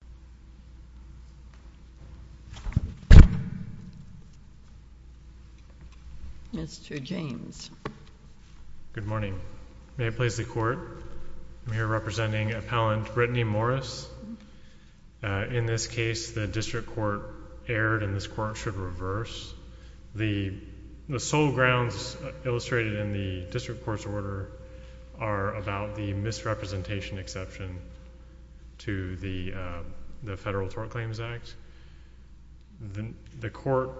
District Court in the United States, and I'm here representing Appellant Brittany Morris. In this case, the District Court erred, and this Court should reverse. The sole grounds illustrated in the District Court's order are about the misrepresentation exception to the Federal Tort Claims Act. The Court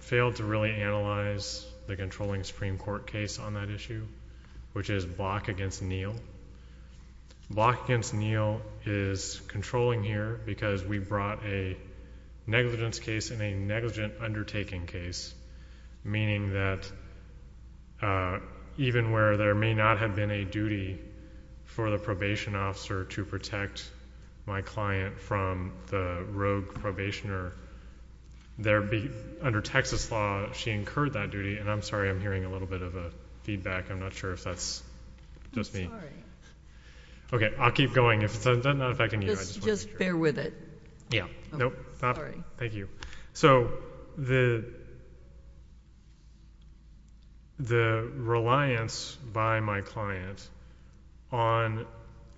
failed to really analyze the controlling Supreme Court case on that issue, which is Block v. Neal. Block v. Neal is controlling here because we brought a negligence case and a negligent undertaking case, meaning that even where there may not have been a duty for the probation officer to protect my client from the rogue probationer, under Texas law, she incurred that duty. And I'm sorry, I'm hearing a little bit of a feedback, I'm not sure if that's just me. Okay, I'll keep going. If that's not affecting you, I just want to make sure. Just bear with it. Yeah. Nope. Sorry. Thank you. So the reliance by my client on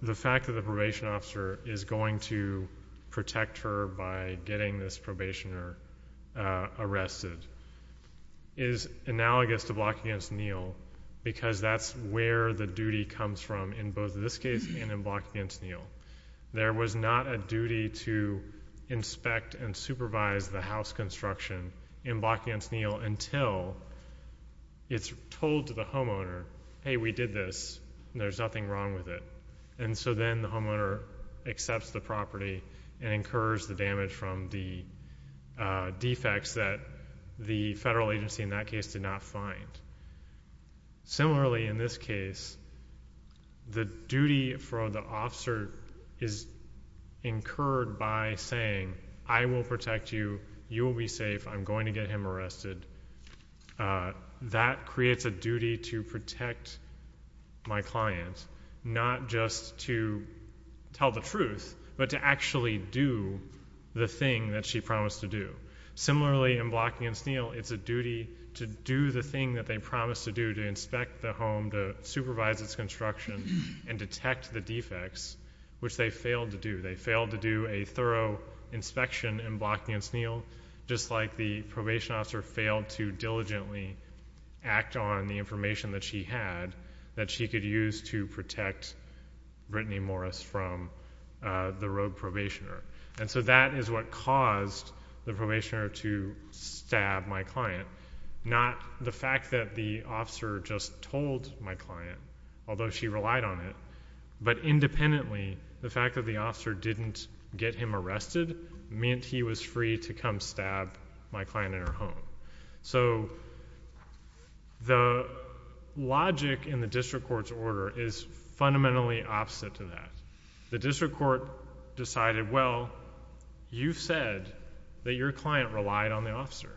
the fact that the probation officer is going to protect her by getting this probationer arrested is analogous to Block v. Neal because that's where the duty comes from in both this case and in Block v. Neal. There was not a duty to inspect and supervise the house construction in Block v. Neal until it's told to the homeowner, hey, we did this, and there's nothing wrong with it. And so then the homeowner accepts the property and incurs the damage from the defects that the federal agency in that case did not find. Similarly, in this case, the duty for the officer is incurred by saying, I will protect you, you will be safe, I'm going to get him arrested. That creates a duty to protect my client, not just to tell the truth, but to actually do the thing that she promised to do. Similarly, in Block v. Neal, it's a duty to do the thing that they promised to do, to inspect the home, to supervise its construction, and detect the defects, which they failed to do. They failed to do a thorough inspection in Block v. Neal, just like the probation officer failed to diligently act on the information that she had that she could use to protect Brittany Morris from the rogue probationer. And so that is what caused the probationer to stab my client, not the fact that the officer just told my client, although she relied on it, but independently, the fact that the officer didn't get him arrested meant he was free to come stab my client in her home. So the logic in the district court's order is fundamentally opposite to that. The district court decided, well, you said that your client relied on the officer,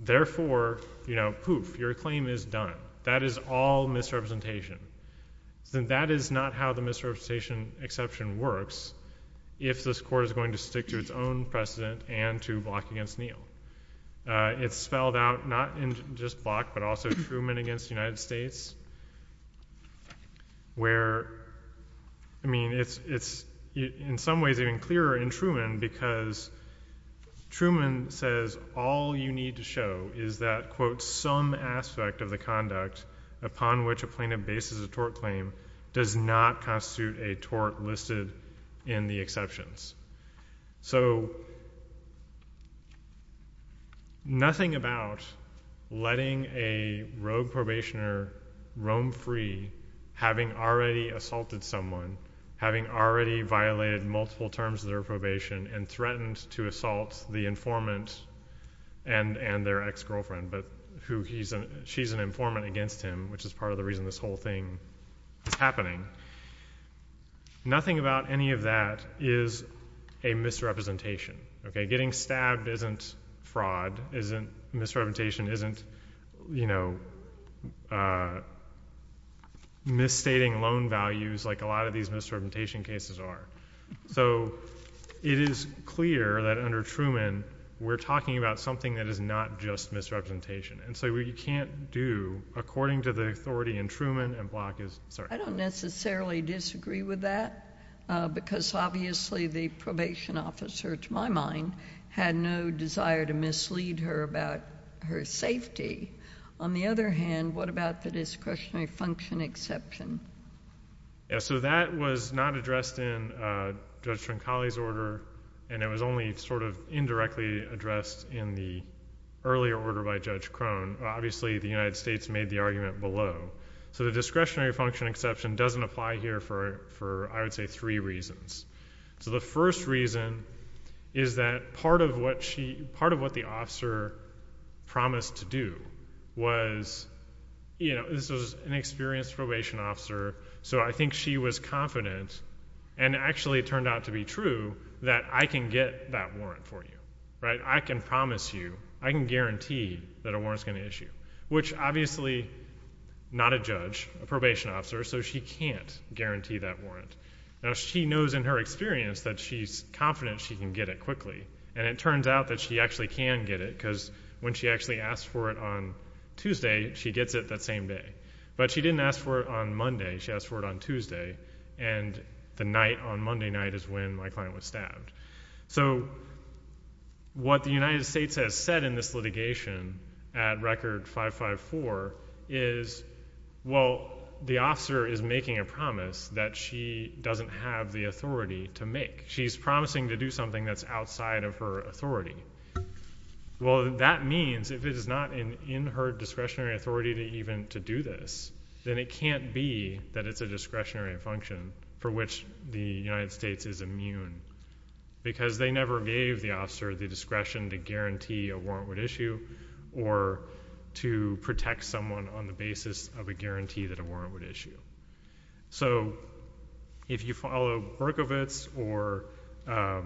therefore, you know, poof, your claim is done. That is all misrepresentation. That is not how the misrepresentation exception works if this court is going to stick to its own precedent and to Block v. Neal. It's spelled out not in just Block, but also Truman v. United States, where, I mean, it's in some ways even clearer in Truman because Truman says all you need to show is that, quote, some aspect of the conduct upon which a plaintiff bases a tort claim does not constitute a tort listed in the exceptions. So nothing about letting a rogue probationer roam free, having already assaulted someone, having already violated multiple terms of their probation, and threatened to assault the informant and their ex-girlfriend, but she's an informant against him, which is part of the reason this whole thing is happening. Nothing about any of that is a misrepresentation, okay? Getting stabbed isn't fraud, isn't misrepresentation, isn't, you know, misstating loan values like a lot of these misrepresentation cases are. So it is clear that under Truman, we're talking about something that is not just misrepresentation. And so what you can't do, according to the authority in Truman and Block is, sorry. I don't necessarily disagree with that, because obviously the probation officer, to my mind, had no desire to mislead her about her safety. On the other hand, what about the discretionary function exception? Yeah, so that was not addressed in Judge Trincali's order, and it was only sort of indirectly addressed in the earlier order by Judge Crone. Obviously the United States made the argument below. So the discretionary function exception doesn't apply here for, I would say, three reasons. So the first reason is that part of what the officer promised to do was, you know, this was an experienced probation officer, so I think she was confident, and actually it turned out to be true, that I can get that warrant for you, right? I can promise you, I can guarantee that a warrant's going to issue. Which obviously, not a judge, a probation officer, so she can't guarantee that warrant. Now she knows in her experience that she's confident she can get it quickly, and it turns out that she actually can get it, because when she actually asked for it on Tuesday, she gets it that same day. But she didn't ask for it on Monday, she asked for it on Tuesday, and the night on Monday night is when my client was stabbed. So what the United States has said in this litigation at Record 554 is, well, the officer is making a promise that she doesn't have the authority to make. She's promising to do something that's outside of her authority. Well, that means if it is not in her discretionary authority to even to do this, then it can't be that it's a discretionary function for which the United States is immune. Because they never gave the officer the discretion to guarantee a warrant would issue, or to protect someone on the basis of a guarantee that a warrant would issue. So, if you follow Berkovitz, or I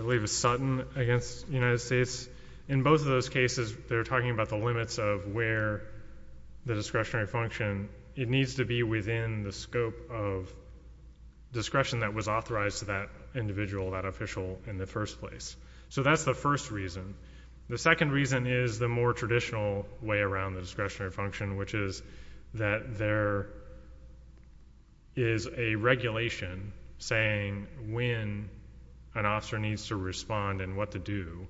believe it's Sutton against the United States, in both of those cases, they're talking about the limits of where the discretionary function, it needs to be within the scope of discretion that was authorized to that individual, that official in the first place. So that's the first reason. The second reason is the more traditional way around the discretionary function, which is that there is a regulation saying when an officer needs to respond and what to do,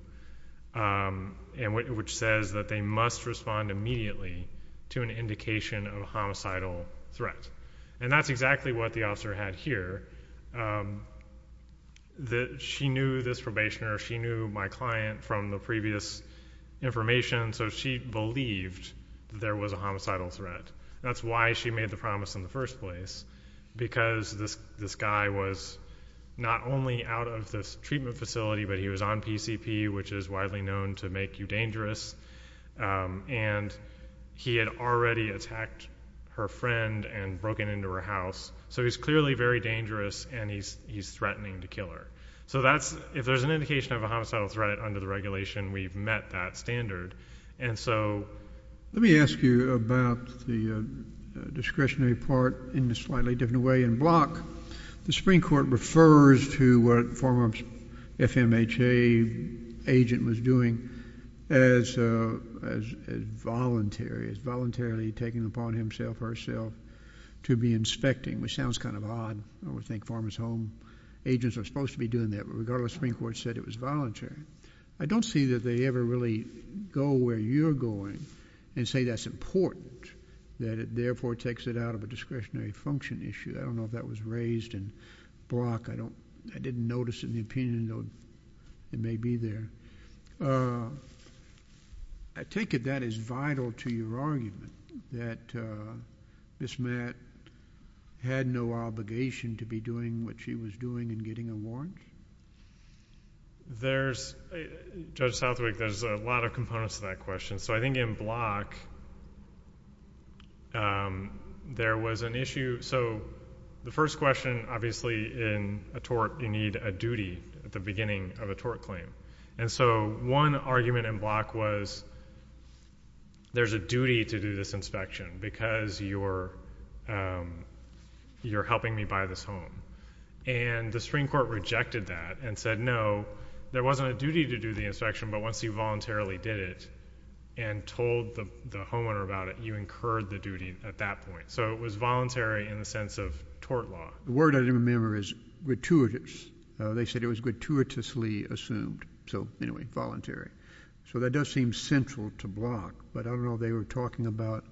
which says that they must respond immediately to an indication of a homicidal threat. And that's exactly what the officer had here. She knew this probationer. She knew my client from the previous information. So she believed there was a homicidal threat. That's why she made the promise in the first place, because this guy was not only out of this treatment facility, but he was on PCP, which is widely known to make you dangerous. And he had already attacked her friend and broken into her house. So he's clearly very dangerous, and he's threatening to kill her. So that's, if there's an indication of a homicidal threat under the regulation, we've met that standard. And so— Let me ask you about the discretionary part in a slightly different way. In Block, the Supreme Court refers to what Farmer's FMHA agent was doing as voluntary, as voluntarily taking upon himself or herself to be inspecting, which sounds kind of odd. I would think Farmer's Home agents are supposed to be doing that, but regardless, the Supreme Court said it was voluntary. I don't see that they ever really go where you're going and say that's important, that it therefore takes it out of a discretionary function issue. I don't know if that was raised in Block. I didn't notice it in the opinion, though it may be there. I take it that is vital to your argument, that Ms. Matt had no obligation to be doing what she was doing and getting a warrant? There's, Judge Southwick, there's a lot of components to that question. So I think in Block, there was an issue. So the first question, obviously, in a tort, you need a duty at the beginning of a tort claim. And so one argument in Block was there's a duty to do this inspection because you're helping me buy this home. And the Supreme Court rejected that and said, no, there wasn't a duty to do the inspection, but once you voluntarily did it and told the homeowner about it, you incurred the duty at that point. So it was voluntary in the sense of tort law. The word I didn't remember is gratuitous. They said it was gratuitously assumed. So anyway, voluntary. So that does seem central to Block. But I don't know if they were talking about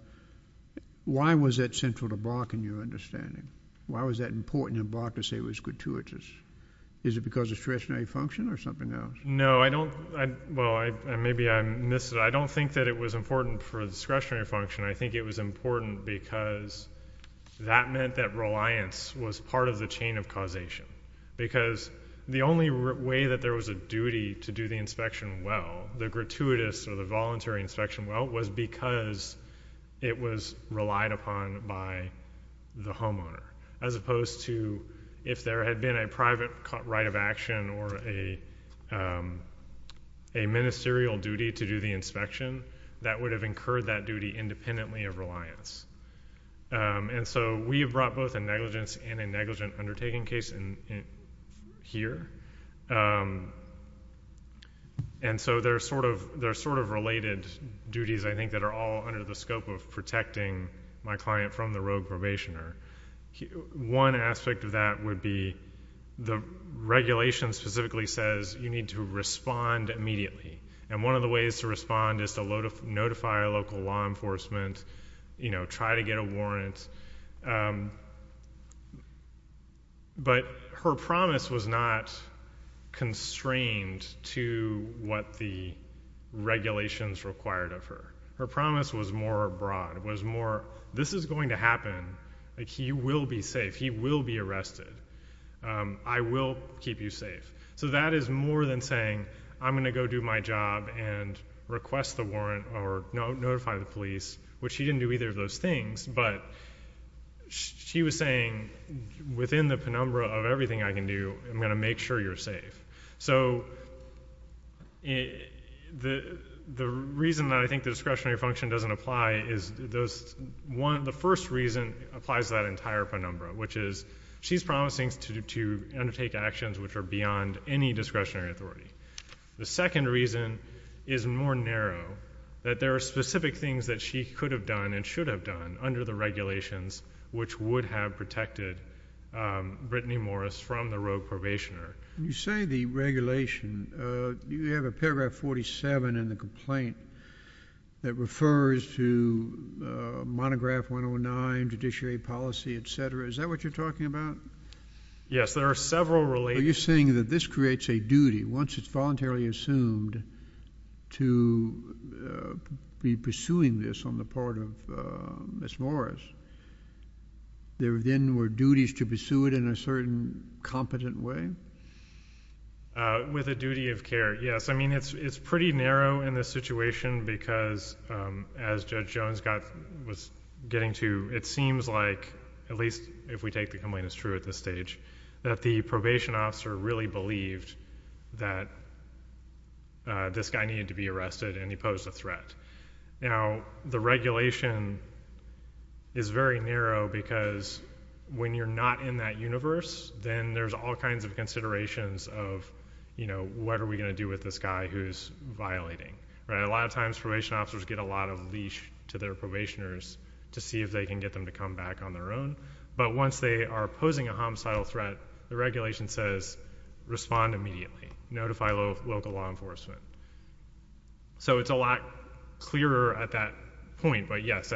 why was that central to Block in your understanding? Why was that important in Block to say it was gratuitous? Is it because of discretionary function or something else? No, I don't, well, maybe I missed it. I don't think that it was important for discretionary function. I think it was important because that meant that reliance was part of the chain of causation. Because the only way that there was a duty to do the inspection well, the gratuitous or the voluntary inspection well, was because it was relied upon by the homeowner. As opposed to if there had been a private right of action or a ministerial duty to do the inspection, that would have incurred that duty independently of reliance. And so we have brought both a negligence and a negligent undertaking case here. And so they're sort of related duties, I think, that are all under the scope of protecting my client from the rogue probationer. One aspect of that would be the regulation specifically says you need to respond immediately. And one of the ways to respond is to notify local law enforcement, try to get a warrant. But her promise was not constrained to what the regulations required of her. Her promise was more broad, was more, this is going to happen, he will be safe, he will be arrested, I will keep you safe. So that is more than saying, I'm going to go do my job and request the warrant or notify the police, which she didn't do either of those things, but she was saying within the penumbra of everything I can do, I'm going to make sure you're safe. So the reason that I think the discretionary function doesn't apply is the first reason applies to that entire penumbra, which is she's promising to undertake actions which are beyond any discretionary authority. The second reason is more narrow, that there are specific things that she could have done and should have done under the regulations which would have protected Brittany Morris from the rogue probationer. When you say the regulation, you have a paragraph 47 in the complaint that refers to monograph 109, judiciary policy, et cetera. Is that what you're talking about? MR. GOLDSMITH. Yes, there are several relations. Are you saying that this creates a duty once it's voluntarily assumed to be pursuing this on the part of Ms. Morris, there then were duties to pursue it in a certain competent way? With a duty of care, yes. I mean, it's pretty narrow in this situation because as Judge Jones was getting to, it really believed that this guy needed to be arrested and he posed a threat. Now, the regulation is very narrow because when you're not in that universe, then there's all kinds of considerations of, you know, what are we going to do with this guy who's violating. A lot of times, probation officers get a lot of leash to their probationers to see if they can get them to come back on their own. But once they are posing a homicidal threat, the regulation says, respond immediately. Notify local law enforcement. So it's a lot clearer at that point, but, yes,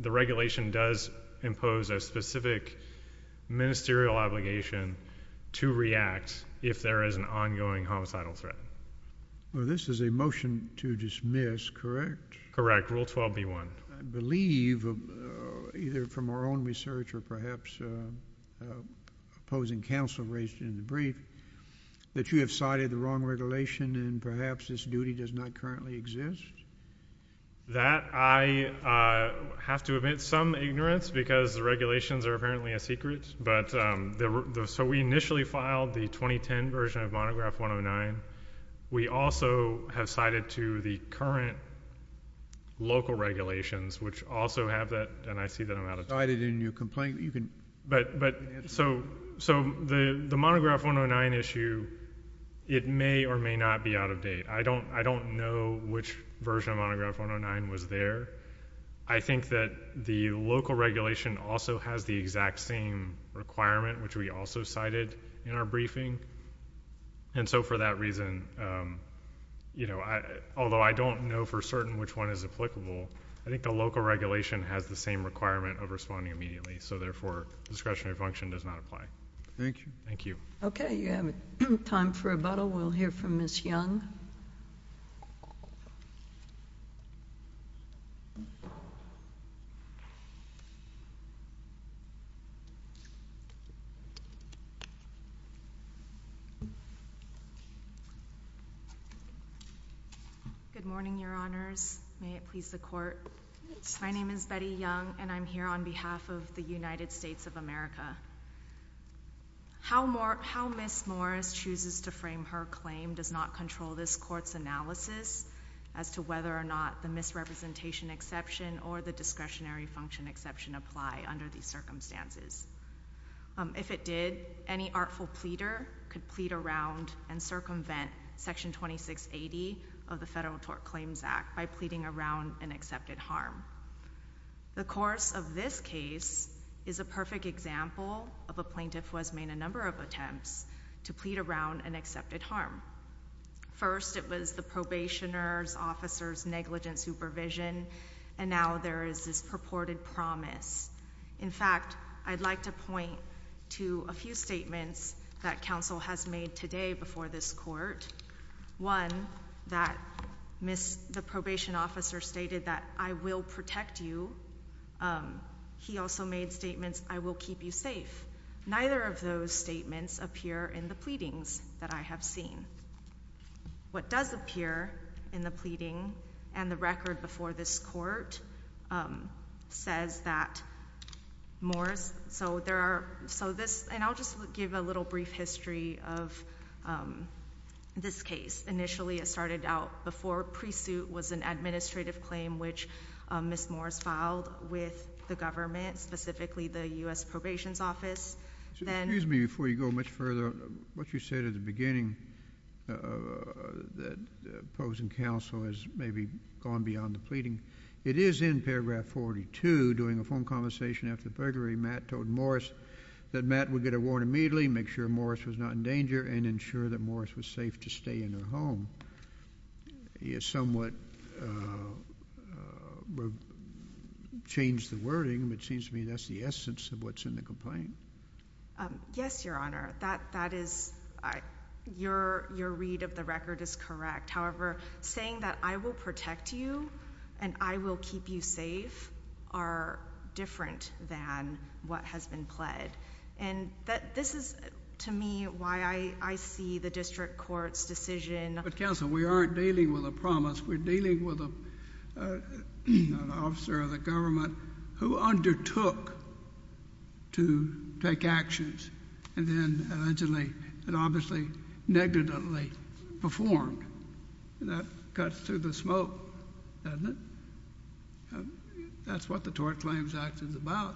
the regulation does impose a specific ministerial obligation to react if there is an ongoing homicidal threat. THE COURT. Well, this is a motion to dismiss, correct? Correct. Rule 12b-1. I believe, either from our own research or perhaps opposing counsel raised in the brief, that you have cited the wrong regulation and perhaps this duty does not currently exist? That I have to admit some ignorance because the regulations are apparently a secret. So we initially filed the 2010 version of Monograph 109. We also have cited to the current local regulations, which also have that, and I see that I'm out of time. Cited in your complaint. You can answer that. But, but, so, so the Monograph 109 issue, it may or may not be out of date. I don't, I don't know which version of Monograph 109 was there. I think that the local regulation also has the exact same requirement, which we also cited in our briefing. And so for that reason, you know, I, although I don't know for certain which one is applicable, I think the local regulation has the same requirement of responding immediately. So therefore, discretionary function does not apply. Thank you. Thank you. Okay. You have time for rebuttal. We'll hear from Ms. Young. Good morning, Your Honors. May it please the Court. My name is Betty Young, and I'm here on behalf of the United States of America. How more, how Ms. Morris chooses to frame her claim does not control this Court's analysis as to whether or not the misrepresentation exception or the discretionary function exception apply under these circumstances. If it did, any artful pleader could plead around and circumvent Section 2680 of the Federal Tort Claims Act by pleading around an accepted harm. The course of this case is a perfect example of a plaintiff who has made a number of attempts to plead around an accepted harm. First it was the probationer's officer's negligent supervision, and now there is this purported promise. In fact, I'd like to point to a few statements that counsel has made today before this Court. One, that the probation officer stated that, I will protect you. He also made statements, I will keep you safe. Neither of those statements appear in the pleadings that I have seen. What does appear in the pleading and the record before this Court says that Morris, so there are, so this, and I'll just give a little brief history of this case. Initially it started out before pre-suit was an administrative claim which Ms. Morris filed with the government, specifically the U.S. Probation's Office. Excuse me before you go much further, what you said at the beginning that opposing counsel has maybe gone beyond the pleading, it is in paragraph 42 during a phone conversation after burglary, Matt told Morris that Matt would get a warrant immediately, make sure Morris was not in danger, and ensure that Morris was safe to stay in her home. He has somewhat changed the wording, but it seems to me that's the essence of what's in the complaint. Yes, Your Honor. That is, your read of the record is correct, however saying that I will protect you and I will keep you safe are different than what has been pled, and this is to me why I see the district court's decision. But counsel, we aren't dealing with a promise, we're dealing with an officer of the government who undertook to take actions, and then allegedly and obviously negatively performed, and that is what the Tort Claims Act is about.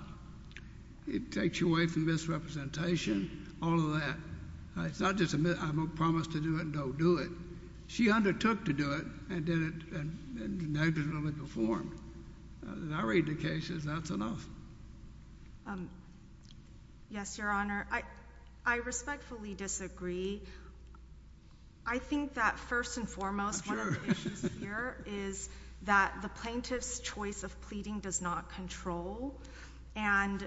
It takes you away from misrepresentation, all of that. It's not just a promise to do it and don't do it. She undertook to do it and did it and negatively performed. I read the cases, that's enough. Yes, Your Honor. I respectfully disagree. I think that first and foremost one of the issues here is that the plaintiff's choice of pleading does not control, and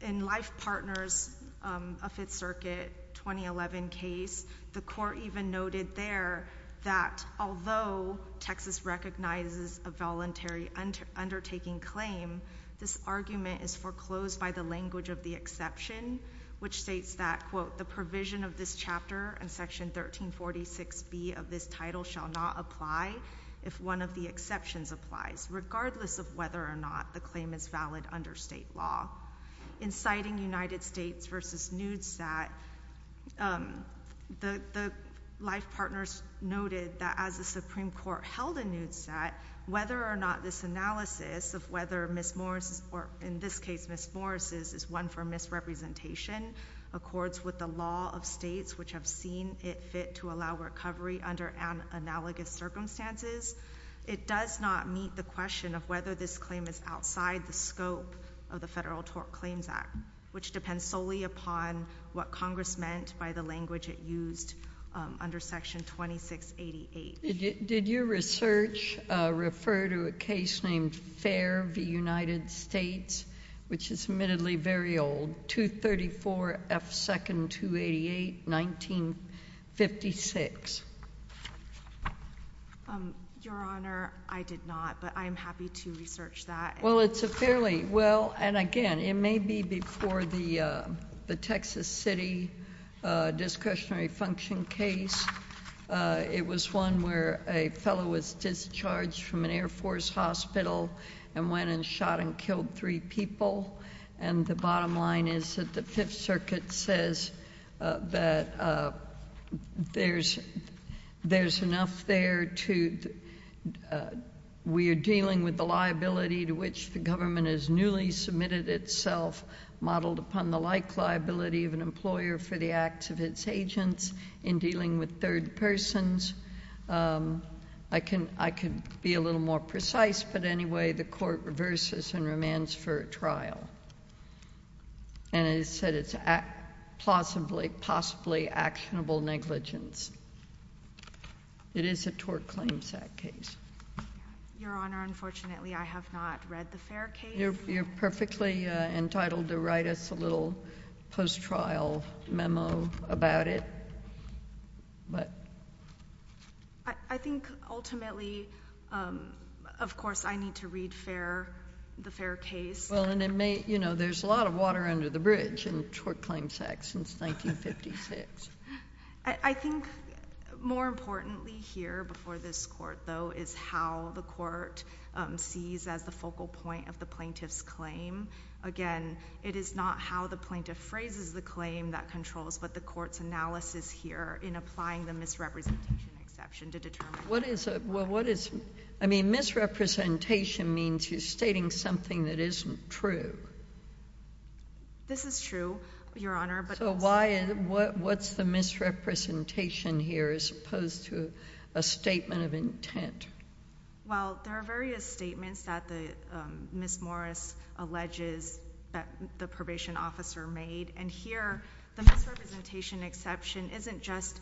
in Life Partners, a Fifth Circuit 2011 case, the court even noted there that although Texas recognizes a voluntary undertaking claim, this argument is foreclosed by the language of the exception, which states that, quote, the provision of this chapter and Section 1346B of this title shall not apply if one of the exceptions applies, regardless of whether or not the claim is valid under state law. In citing United States v. Newstat, the Life Partners noted that as the Supreme Court held in Newstat, whether or not this analysis of whether Ms. Morris, or in this case Ms. Morris, is one for misrepresentation, accords with the law of states which have seen it fit to allow recovery under analogous circumstances, it does not meet the question of whether this claim is outside the scope of the Federal Tort Claims Act, which depends solely upon what Congress meant by the language it used under Section 2688. Did your research refer to a case named Fair v. United States, which is admittedly very old, 234 F. 2nd, 288, 1956? Your Honor, I did not, but I am happy to research that. Well, it's a fairly, well, and again, it may be before the Texas City discretionary function case. It was one where a fellow was discharged from an Air Force hospital and went and shot and killed three people, and the bottom line is that the Fifth Circuit says that there's enough there to, we are dealing with the liability to which the government has newly submitted itself modeled upon the like liability of an employer for the acts of its agents in dealing with third persons. I can be a little more precise, but anyway, the Court reverses and remands for a trial, and it said it's possibly actionable negligence. It is a Tort Claims Act case. Your Honor, unfortunately, I have not read the Fair case. You're perfectly entitled to write us a little post-trial memo about it. I think ultimately, of course, I need to read the Fair case. There's a lot of water under the bridge in the Tort Claims Act since 1956. I think more importantly here before this Court, though, is how the Court sees as the logical point of the plaintiff's claim. Again, it is not how the plaintiff phrases the claim that controls, but the Court's analysis here in applying the misrepresentation exception to determine what is a— Well, what is—I mean, misrepresentation means you're stating something that isn't true. This is true, Your Honor, but— So why—what's the misrepresentation here as opposed to a statement of intent? Well, there are various statements that the—Ms. Morris alleges that the probation officer made, and here, the misrepresentation exception isn't just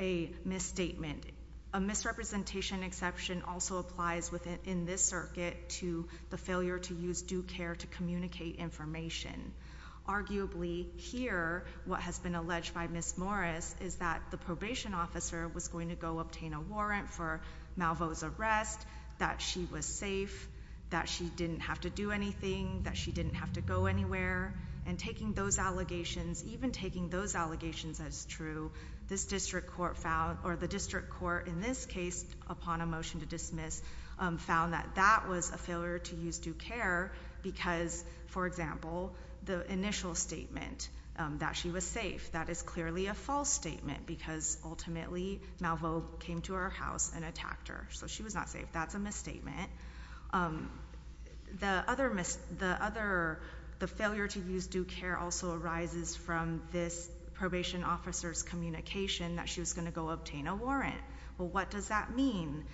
a misstatement. A misrepresentation exception also applies within this circuit to the failure to use due care to communicate information. Arguably, here, what has been alleged by Ms. Morris is that the probation officer was going to go obtain a warrant for Malvo's arrest, that she was safe, that she didn't have to do anything, that she didn't have to go anywhere, and taking those allegations, even taking those allegations as true, this district court found—or the district court in this case, upon a motion to dismiss, found that that was a failure to use due care because, for example, the initial statement that she was safe, that is clearly a false statement because, ultimately, Malvo came to her house and attacked her, so she was not safe. That's a misstatement. The other—the failure to use due care also arises from this probation officer's communication that she was going to go obtain a warrant. Well, what does that mean?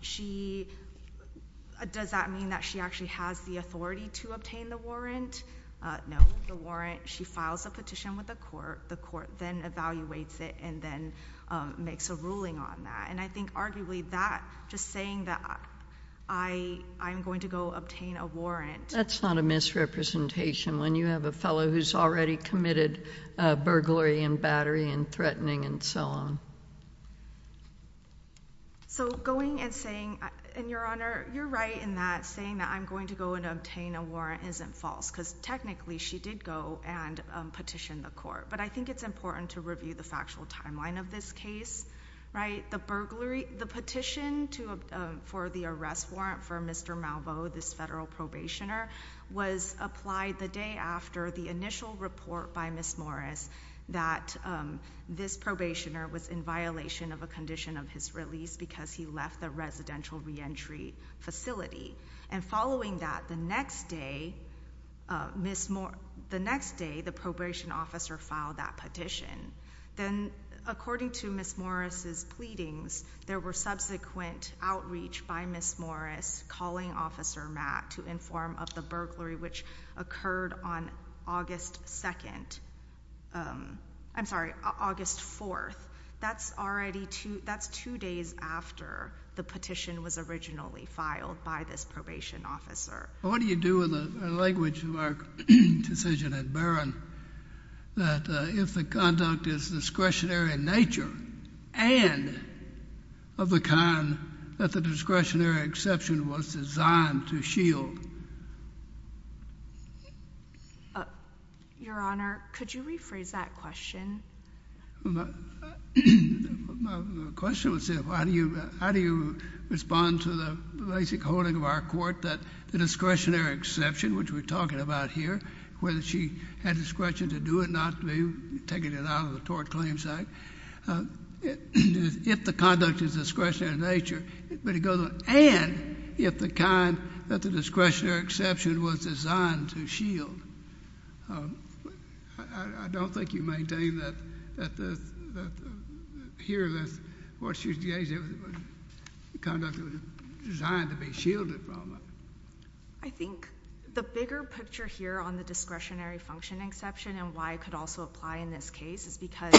She—does that mean that she actually has the authority to obtain the warrant? No. She files a petition with the court. The court then evaluates it and then makes a ruling on that, and I think, arguably, that—just saying that I'm going to go obtain a warrant— That's not a misrepresentation when you have a fellow who's already committed burglary and battery and threatening and so on. So going and saying—and, Your Honor, you're right in that saying that I'm going to go and obtain a warrant isn't false because, technically, she did go and petition the court, but I think it's important to review the factual timeline of this case, right? The burglary—the petition to—for the arrest warrant for Mr. Malvo, this federal probationer, was applied the day after the initial report by Ms. Morris that this probationer was in violation of a condition of his release because he left the residential reentry facility, and following that, the next day, the next day, the probation officer filed that petition. Then, according to Ms. Morris' pleadings, there were subsequent outreach by Ms. Morris calling Officer Matt to inform of the burglary, which occurred on August 2nd—I'm sorry, August 4th. That's already two—that's two days after the petition was originally filed by this probation officer. Well, what do you do with the language of our decision at Barron that if the conduct is discretionary in nature and of the kind that the discretionary exception was designed to shield? Your Honor, could you rephrase that question? My question was how do you respond to the basic holding of our court that the discretionary exception, which we're talking about here, whether she had discretion to do it, not to be taken out of the Tort Claims Act, if the conduct is discretionary in nature, but it was—and if the kind that the discretionary exception was designed to shield? I don't think you maintain that here, that what she was engaging in was the conduct that was designed to be shielded from her. I think the bigger picture here on the discretionary function exception and why it could also apply in this case is because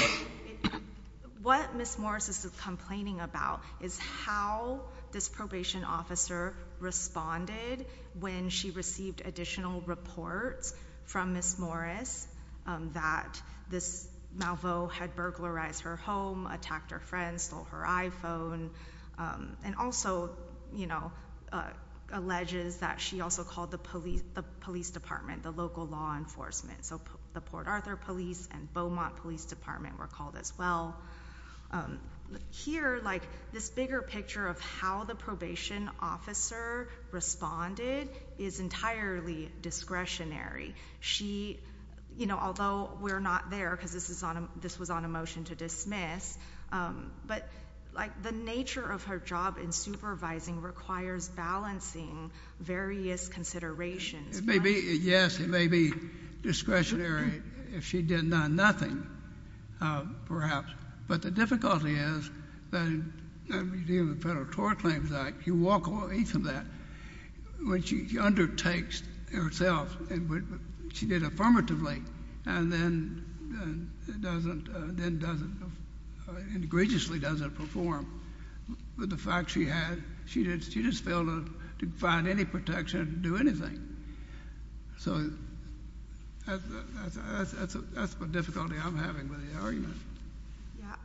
what Ms. Morris is complaining about is how this probation officer responded when she received additional reports from Ms. Morris that this malveau had burglarized her home, attacked her friends, stole her iPhone, and also, you know, alleges that she also called the police department, the local law enforcement, so the Port Arthur police and Beaumont police department were called as well. Here, like, this bigger picture of how the probation officer responded is entirely discretionary. She—you know, although we're not there because this was on a motion to dismiss, but, like, the nature of her job in supervising requires balancing various considerations. It may be—yes, it may be discretionary if she did nothing, perhaps, but the difficulty is that in the Federal Tort Claims Act, you walk away from that when she undertakes herself and what she did affirmatively and then doesn't—and egregiously doesn't perform with the fact that she had—she just failed to find any protection to do anything, so that's the difficulty I'm having with the argument. Yeah.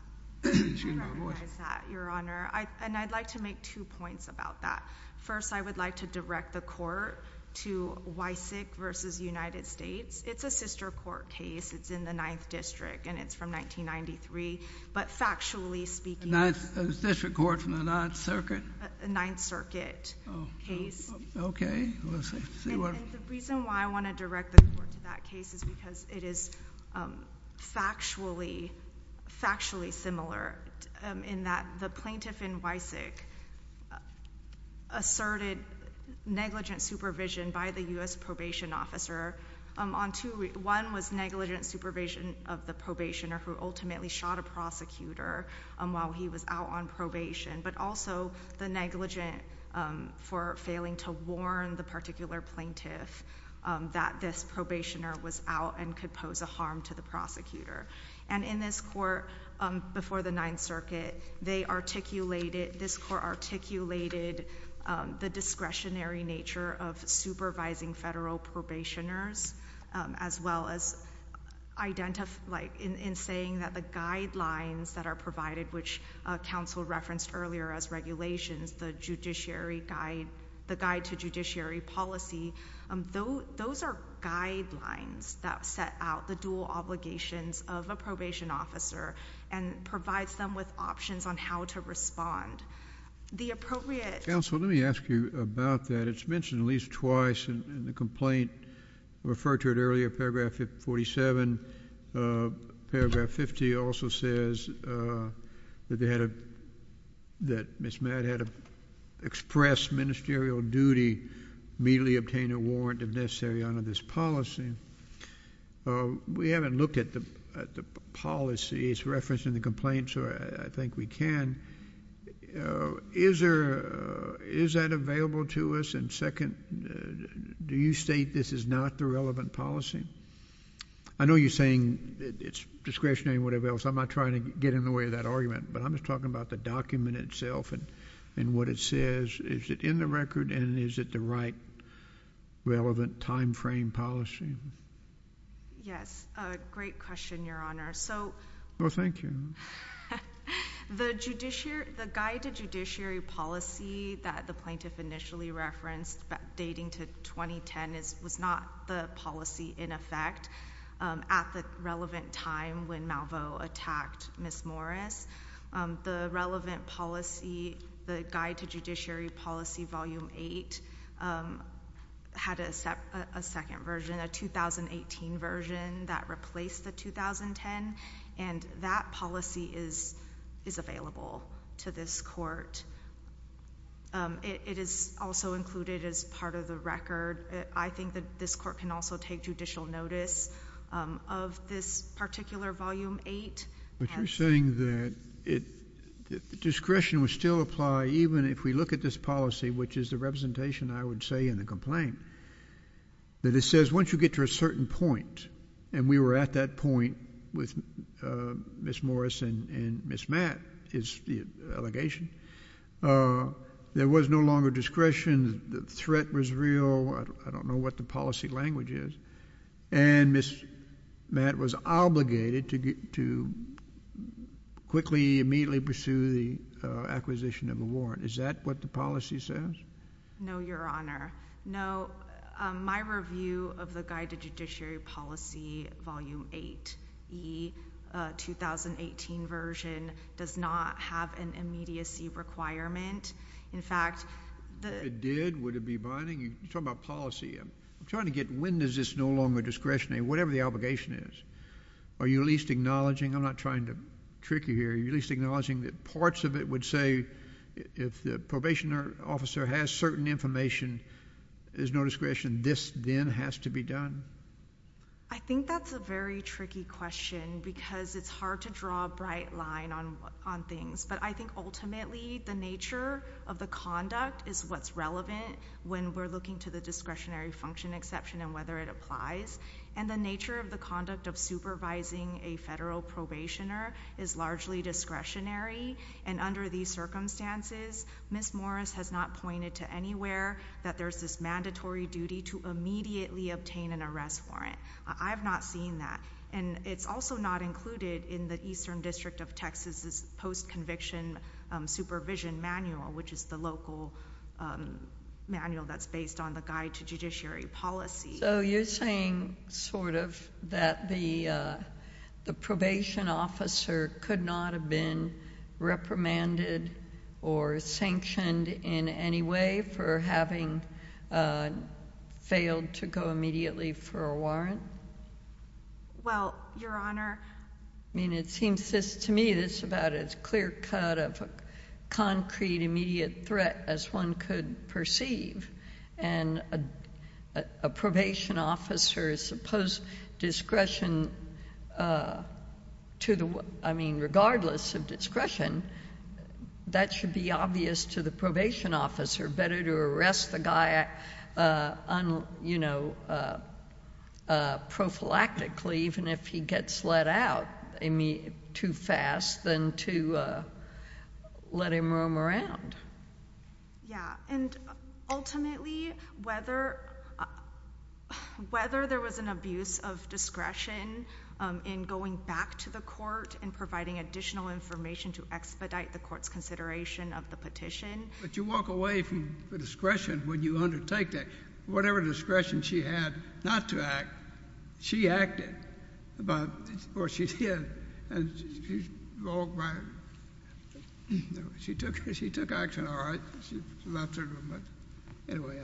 Excuse my voice. I recognize that, Your Honor, and I'd like to make two points about that. First, I would like to direct the Court to Wysick v. United States. It's a sister court case. It's in the Ninth District, and it's from 1993, but factually speaking— A ninth—a sister court from the Ninth Circuit? A Ninth Circuit case. Oh, okay. Let's see. See what— And the reason why I want to direct the Court to that case is because it is factually, factually similar in that the plaintiff in Wysick asserted negligent supervision by the U.S. Probation Officer on two—one was negligent supervision of the probationer who ultimately shot a prosecutor while he was out on probation, but also the negligent for failing to warn the particular plaintiff that this probationer was out and could pose a harm to the prosecutor. And in this court before the Ninth Circuit, they articulated—this court articulated the discretionary nature of supervising federal probationers, as well as identify—like, in saying that the guidelines that are provided, which counsel referenced earlier as regulations, the Judiciary Guide—the Guide to Judiciary Policy, those are guidelines that set out the dual obligations of a probation officer and provides them with options on how to respond. The appropriate— Counsel, let me ask you about that. It's mentioned at least twice in the complaint. I referred to it earlier, Paragraph 47. Paragraph 50 also says that they had a—that Ms. Matt had to express ministerial duty, immediately obtain a warrant if necessary under this policy. We haven't looked at the policies referenced in the complaint, so I think we can. And is there—is that available to us? And second, do you state this is not the relevant policy? I know you're saying it's discretionary and whatever else. I'm not trying to get in the way of that argument, but I'm just talking about the document itself and what it says. Is it in the record, and is it the right, relevant, timeframe policy? Yes. Great question, Your Honor. So— Well, thank you. The judicial—the guide to judiciary policy that the plaintiff initially referenced dating to 2010 is—was not the policy in effect at the relevant time when Malveaux attacked Ms. Morris. The relevant policy, the guide to judiciary policy, Volume 8, had a second version, a 2018 version, that replaced the 2010, and that policy is—is available to this Court. It is also included as part of the record. I think that this Court can also take judicial notice of this particular Volume 8. But you're saying that it—discretion would still apply even if we look at this policy, which is the representation, I would say, in the complaint, that it says once you get to a certain point, and we were at that point with Ms. Morris and Ms. Matt, is the allegation, there was no longer discretion, the threat was real, I don't know what the policy language is, and Ms. Matt was obligated to get—to quickly, immediately pursue the acquisition of a warrant. Is that what the policy says? No, Your Honor. No, my review of the guide to judiciary policy, Volume 8, the 2018 version, does not have an immediacy requirement. In fact, the— If it did, would it be binding? You're talking about policy. I'm trying to get—when is this no longer discretionary? Whatever the obligation is. Are you at least acknowledging—I'm not trying to trick you here—are you at least has certain information, there's no discretion, this then has to be done? I think that's a very tricky question because it's hard to draw a bright line on things, but I think ultimately the nature of the conduct is what's relevant when we're looking to the discretionary function exception and whether it applies, and the nature of the conduct of supervising a federal probationer is largely discretionary, and under these circumstances, Ms. Morris has not pointed to anywhere that there's this mandatory duty to immediately obtain an arrest warrant. I've not seen that, and it's also not included in the Eastern District of Texas' post-conviction supervision manual, which is the local manual that's based on the guide to judiciary policy. So you're saying sort of that the probation officer could not have been reprimanded or sanctioned in any way for having failed to go immediately for a warrant? Well, Your Honor— I mean, it seems to me that it's about as clear-cut of a concrete, immediate threat as one could perceive, and a probation officer's post-discretion, I mean, regardless of discretion, that should be obvious to the probation officer. Better to arrest the guy, you know, prophylactically even if he gets let out too fast than to let him roam around. Yeah, and ultimately, whether there was an abuse of discretion in going back to the court and providing additional information to expedite the court's consideration of the petition— But you walk away from the discretion when you undertake that. Whatever discretion she had not to act, she acted about—or she did, and she walked by—no, she took action, all right, she left her room, but anyway—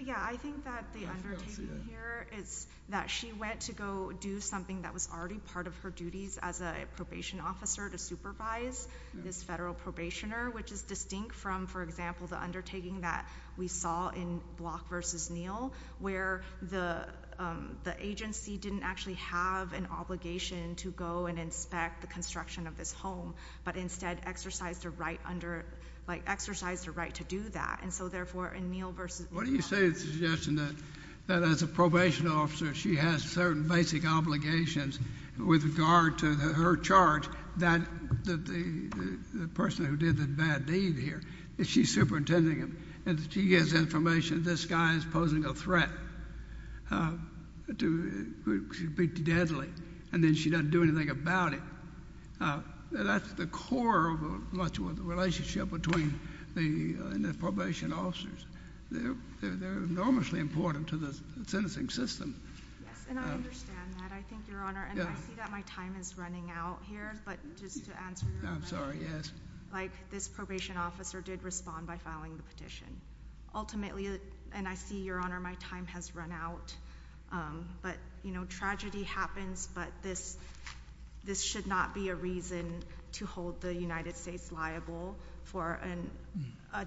Yeah, I think that the undertaking here is that she went to go do something that was already part of her duties as a probation officer to supervise this federal probationer, which is distinct from, for example, the undertaking that we saw in Block v. Neal, where the agency didn't actually have an obligation to go and inspect the construction of this home, but instead exercised a right to do that. And so therefore, in Neal v. Block— What do you say to the suggestion that as a probation officer, she has certain basic obligations with regard to her charge that the person who did the bad deed here, she's superintending him, and she gives information that this guy is posing a threat to—she'd be deadly, and then she doesn't do anything about it. That's the core of much of the relationship between the probation officers. They're enormously important to the sentencing system. Yes, and I understand that. I think, Your Honor, and I see that my time is running out here, but just to answer your I'm sorry, yes. Like, this probation officer did respond by filing the petition. Ultimately, and I see, Your Honor, my time has run out, but, you know, tragedy happens, but this should not be a reason to hold the United States liable for an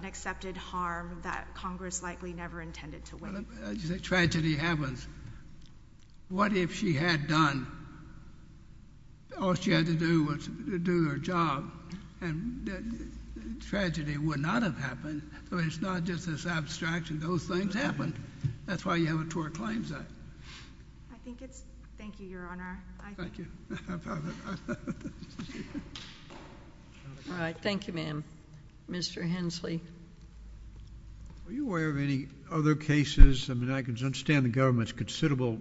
accepted harm that Congress likely never intended to waive. Tragedy happens. What if she had done—all she had to do was to do her job, and tragedy would not have happened. I mean, it's not just this abstraction. Those things happen. That's why you have a Tort Claims Act. I think it's—thank you, Your Honor. Thank you. All right. Thank you, ma'am. Mr. Hensley. Are you aware of any other cases—I mean, I can understand the government's considerable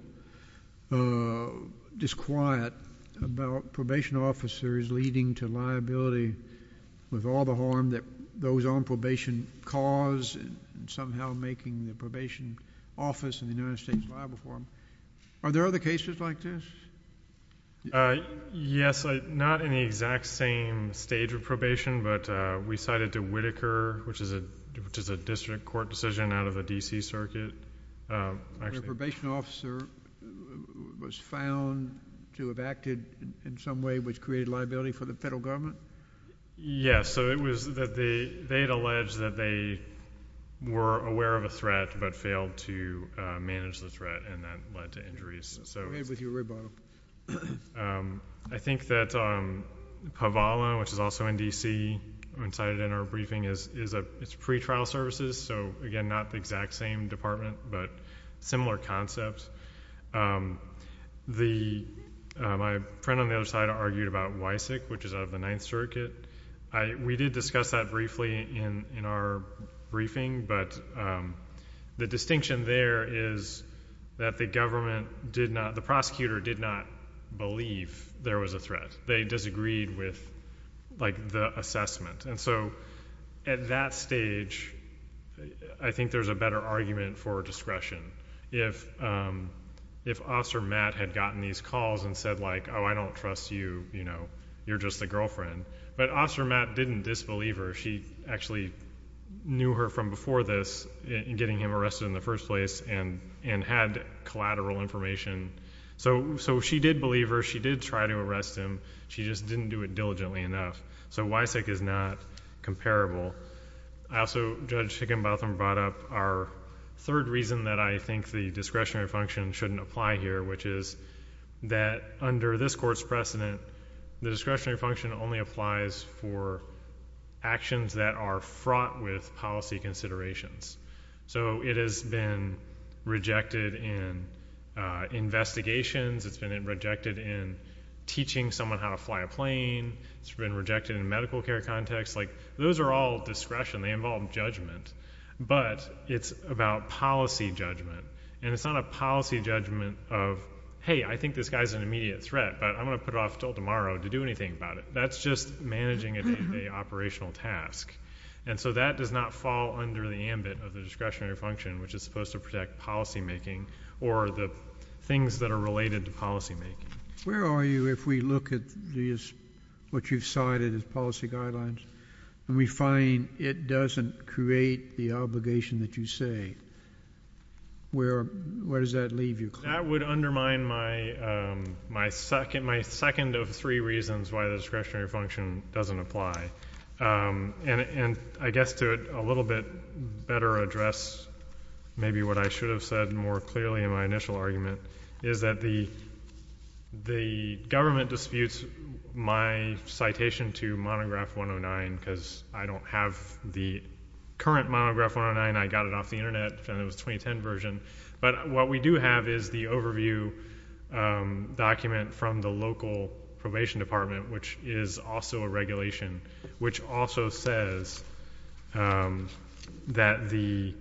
disquiet about probation officers leading to liability with all the harm that those on probation cause, and somehow making the probation office in the United States liable for them. Are there other cases like this? Uh, yes. Not in the exact same stage of probation, but we cited to Whitaker, which is a district court decision out of the D.C. Circuit. A probation officer was found to have acted in some way which created liability for the federal government? Yes. So it was that they had alleged that they were aware of a threat but failed to manage the threat, and that led to injuries. So— Um, I think that, um, Pavalo, which is also in D.C., when cited in our briefing, is a—it's pretrial services. So, again, not the exact same department, but similar concepts. The, um, my friend on the other side argued about WISEC, which is out of the Ninth Circuit. I—we did discuss that briefly in our briefing, but, um, the distinction there is that the government did not—the prosecutor did not believe there was a threat. They disagreed with, like, the assessment. And so at that stage, I think there's a better argument for discretion. If, um, if Officer Matt had gotten these calls and said, like, oh, I don't trust you, you know, you're just a girlfriend. But Officer Matt didn't disbelieve her. She actually knew her from before this in getting him arrested in the first place and and had collateral information. So—so she did believe her. She did try to arrest him. She just didn't do it diligently enough. So WISEC is not comparable. I also—Judge Higginbotham brought up our third reason that I think the discretionary function shouldn't apply here, which is that under this Court's precedent, the discretionary function only applies for actions that are fraught with policy considerations. So it has been rejected in investigations. It's been rejected in teaching someone how to fly a plane. It's been rejected in medical care contexts. Like, those are all discretion. They involve judgment. But it's about policy judgment. And it's not a policy judgment of, hey, I think this guy's an immediate threat, but I'm going to put it off until tomorrow to do anything about it. That's just managing an operational task. And so that does not fall under the ambit of the discretionary function, which is supposed to protect policymaking or the things that are related to policymaking. Where are you if we look at these, what you've cited as policy guidelines, and we find it doesn't create the obligation that you say? Where—where does that leave you? That would undermine my—my second—my second of three reasons why the discretionary function doesn't apply. And—and I guess to a little bit better address maybe what I should have said more clearly in my initial argument, is that the—the government disputes my citation to monograph 109 because I don't have the current monograph 109. I got it off the internet, and it was 2010 version. But what we do have is the overview document from the local probation department, which is also a regulation, which also says that the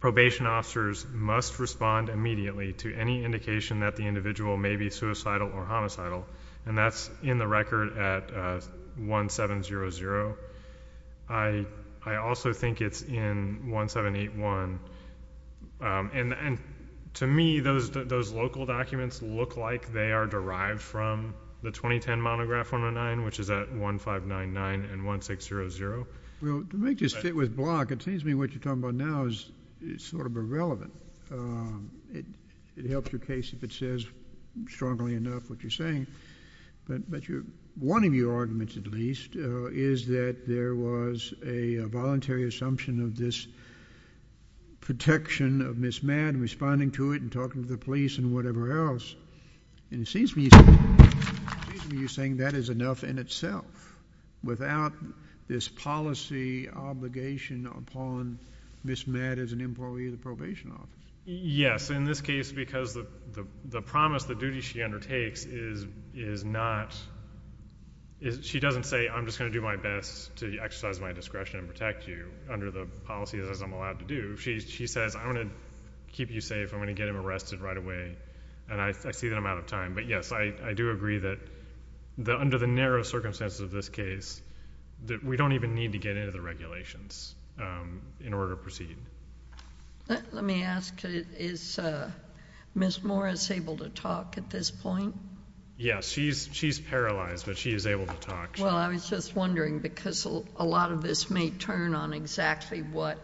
probation officers must respond immediately to any indication that the individual may be suicidal or homicidal. And that's in the record at 1700. I—I also think it's in 1781. And—and to me, those—those local documents look like they are derived from the 2010 monograph 109, which is at 1599 and 1600. Well, to make this fit with Block, it seems to me what you're talking about now is—is sort of irrelevant. It helps your case if it says strongly enough what you're saying. But—but your—one of your arguments, at least, is that there was a voluntary assumption of this protection of Ms. Madden responding to it and talking to the police and whatever else. And it seems to me—it seems to me you're saying that is enough in itself, without this policy obligation upon Ms. Madden as an employee of the probation office. Yes. In this case, because the—the promise, the duty she undertakes is—is not—is—she doesn't say, I'm just going to do my best to exercise my discretion and protect you under the policies as I'm allowed to do. She—she says, I'm going to keep you safe. I'm going to get him arrested right away. And I—I see that I'm out of time. But yes, I—I do agree that the—under the narrow circumstances of this case, that we don't even need to get into the regulations in order to proceed. Let me ask, is Ms. Morris able to talk at this point? Yes, she's—she's paralyzed, but she is able to talk. Well, I was just wondering, because a lot of this may turn on exactly what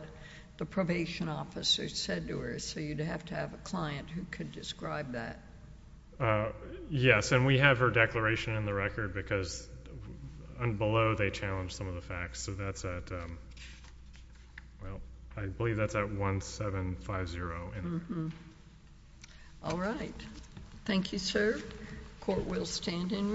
the probation officer said to her. So you'd have to have a client who could describe that. Yes, and we have her declaration in the record, because below, they challenge some of the So that's at—well, I believe that's at 1750. All right. Thank you, sir. Court will stand in recess.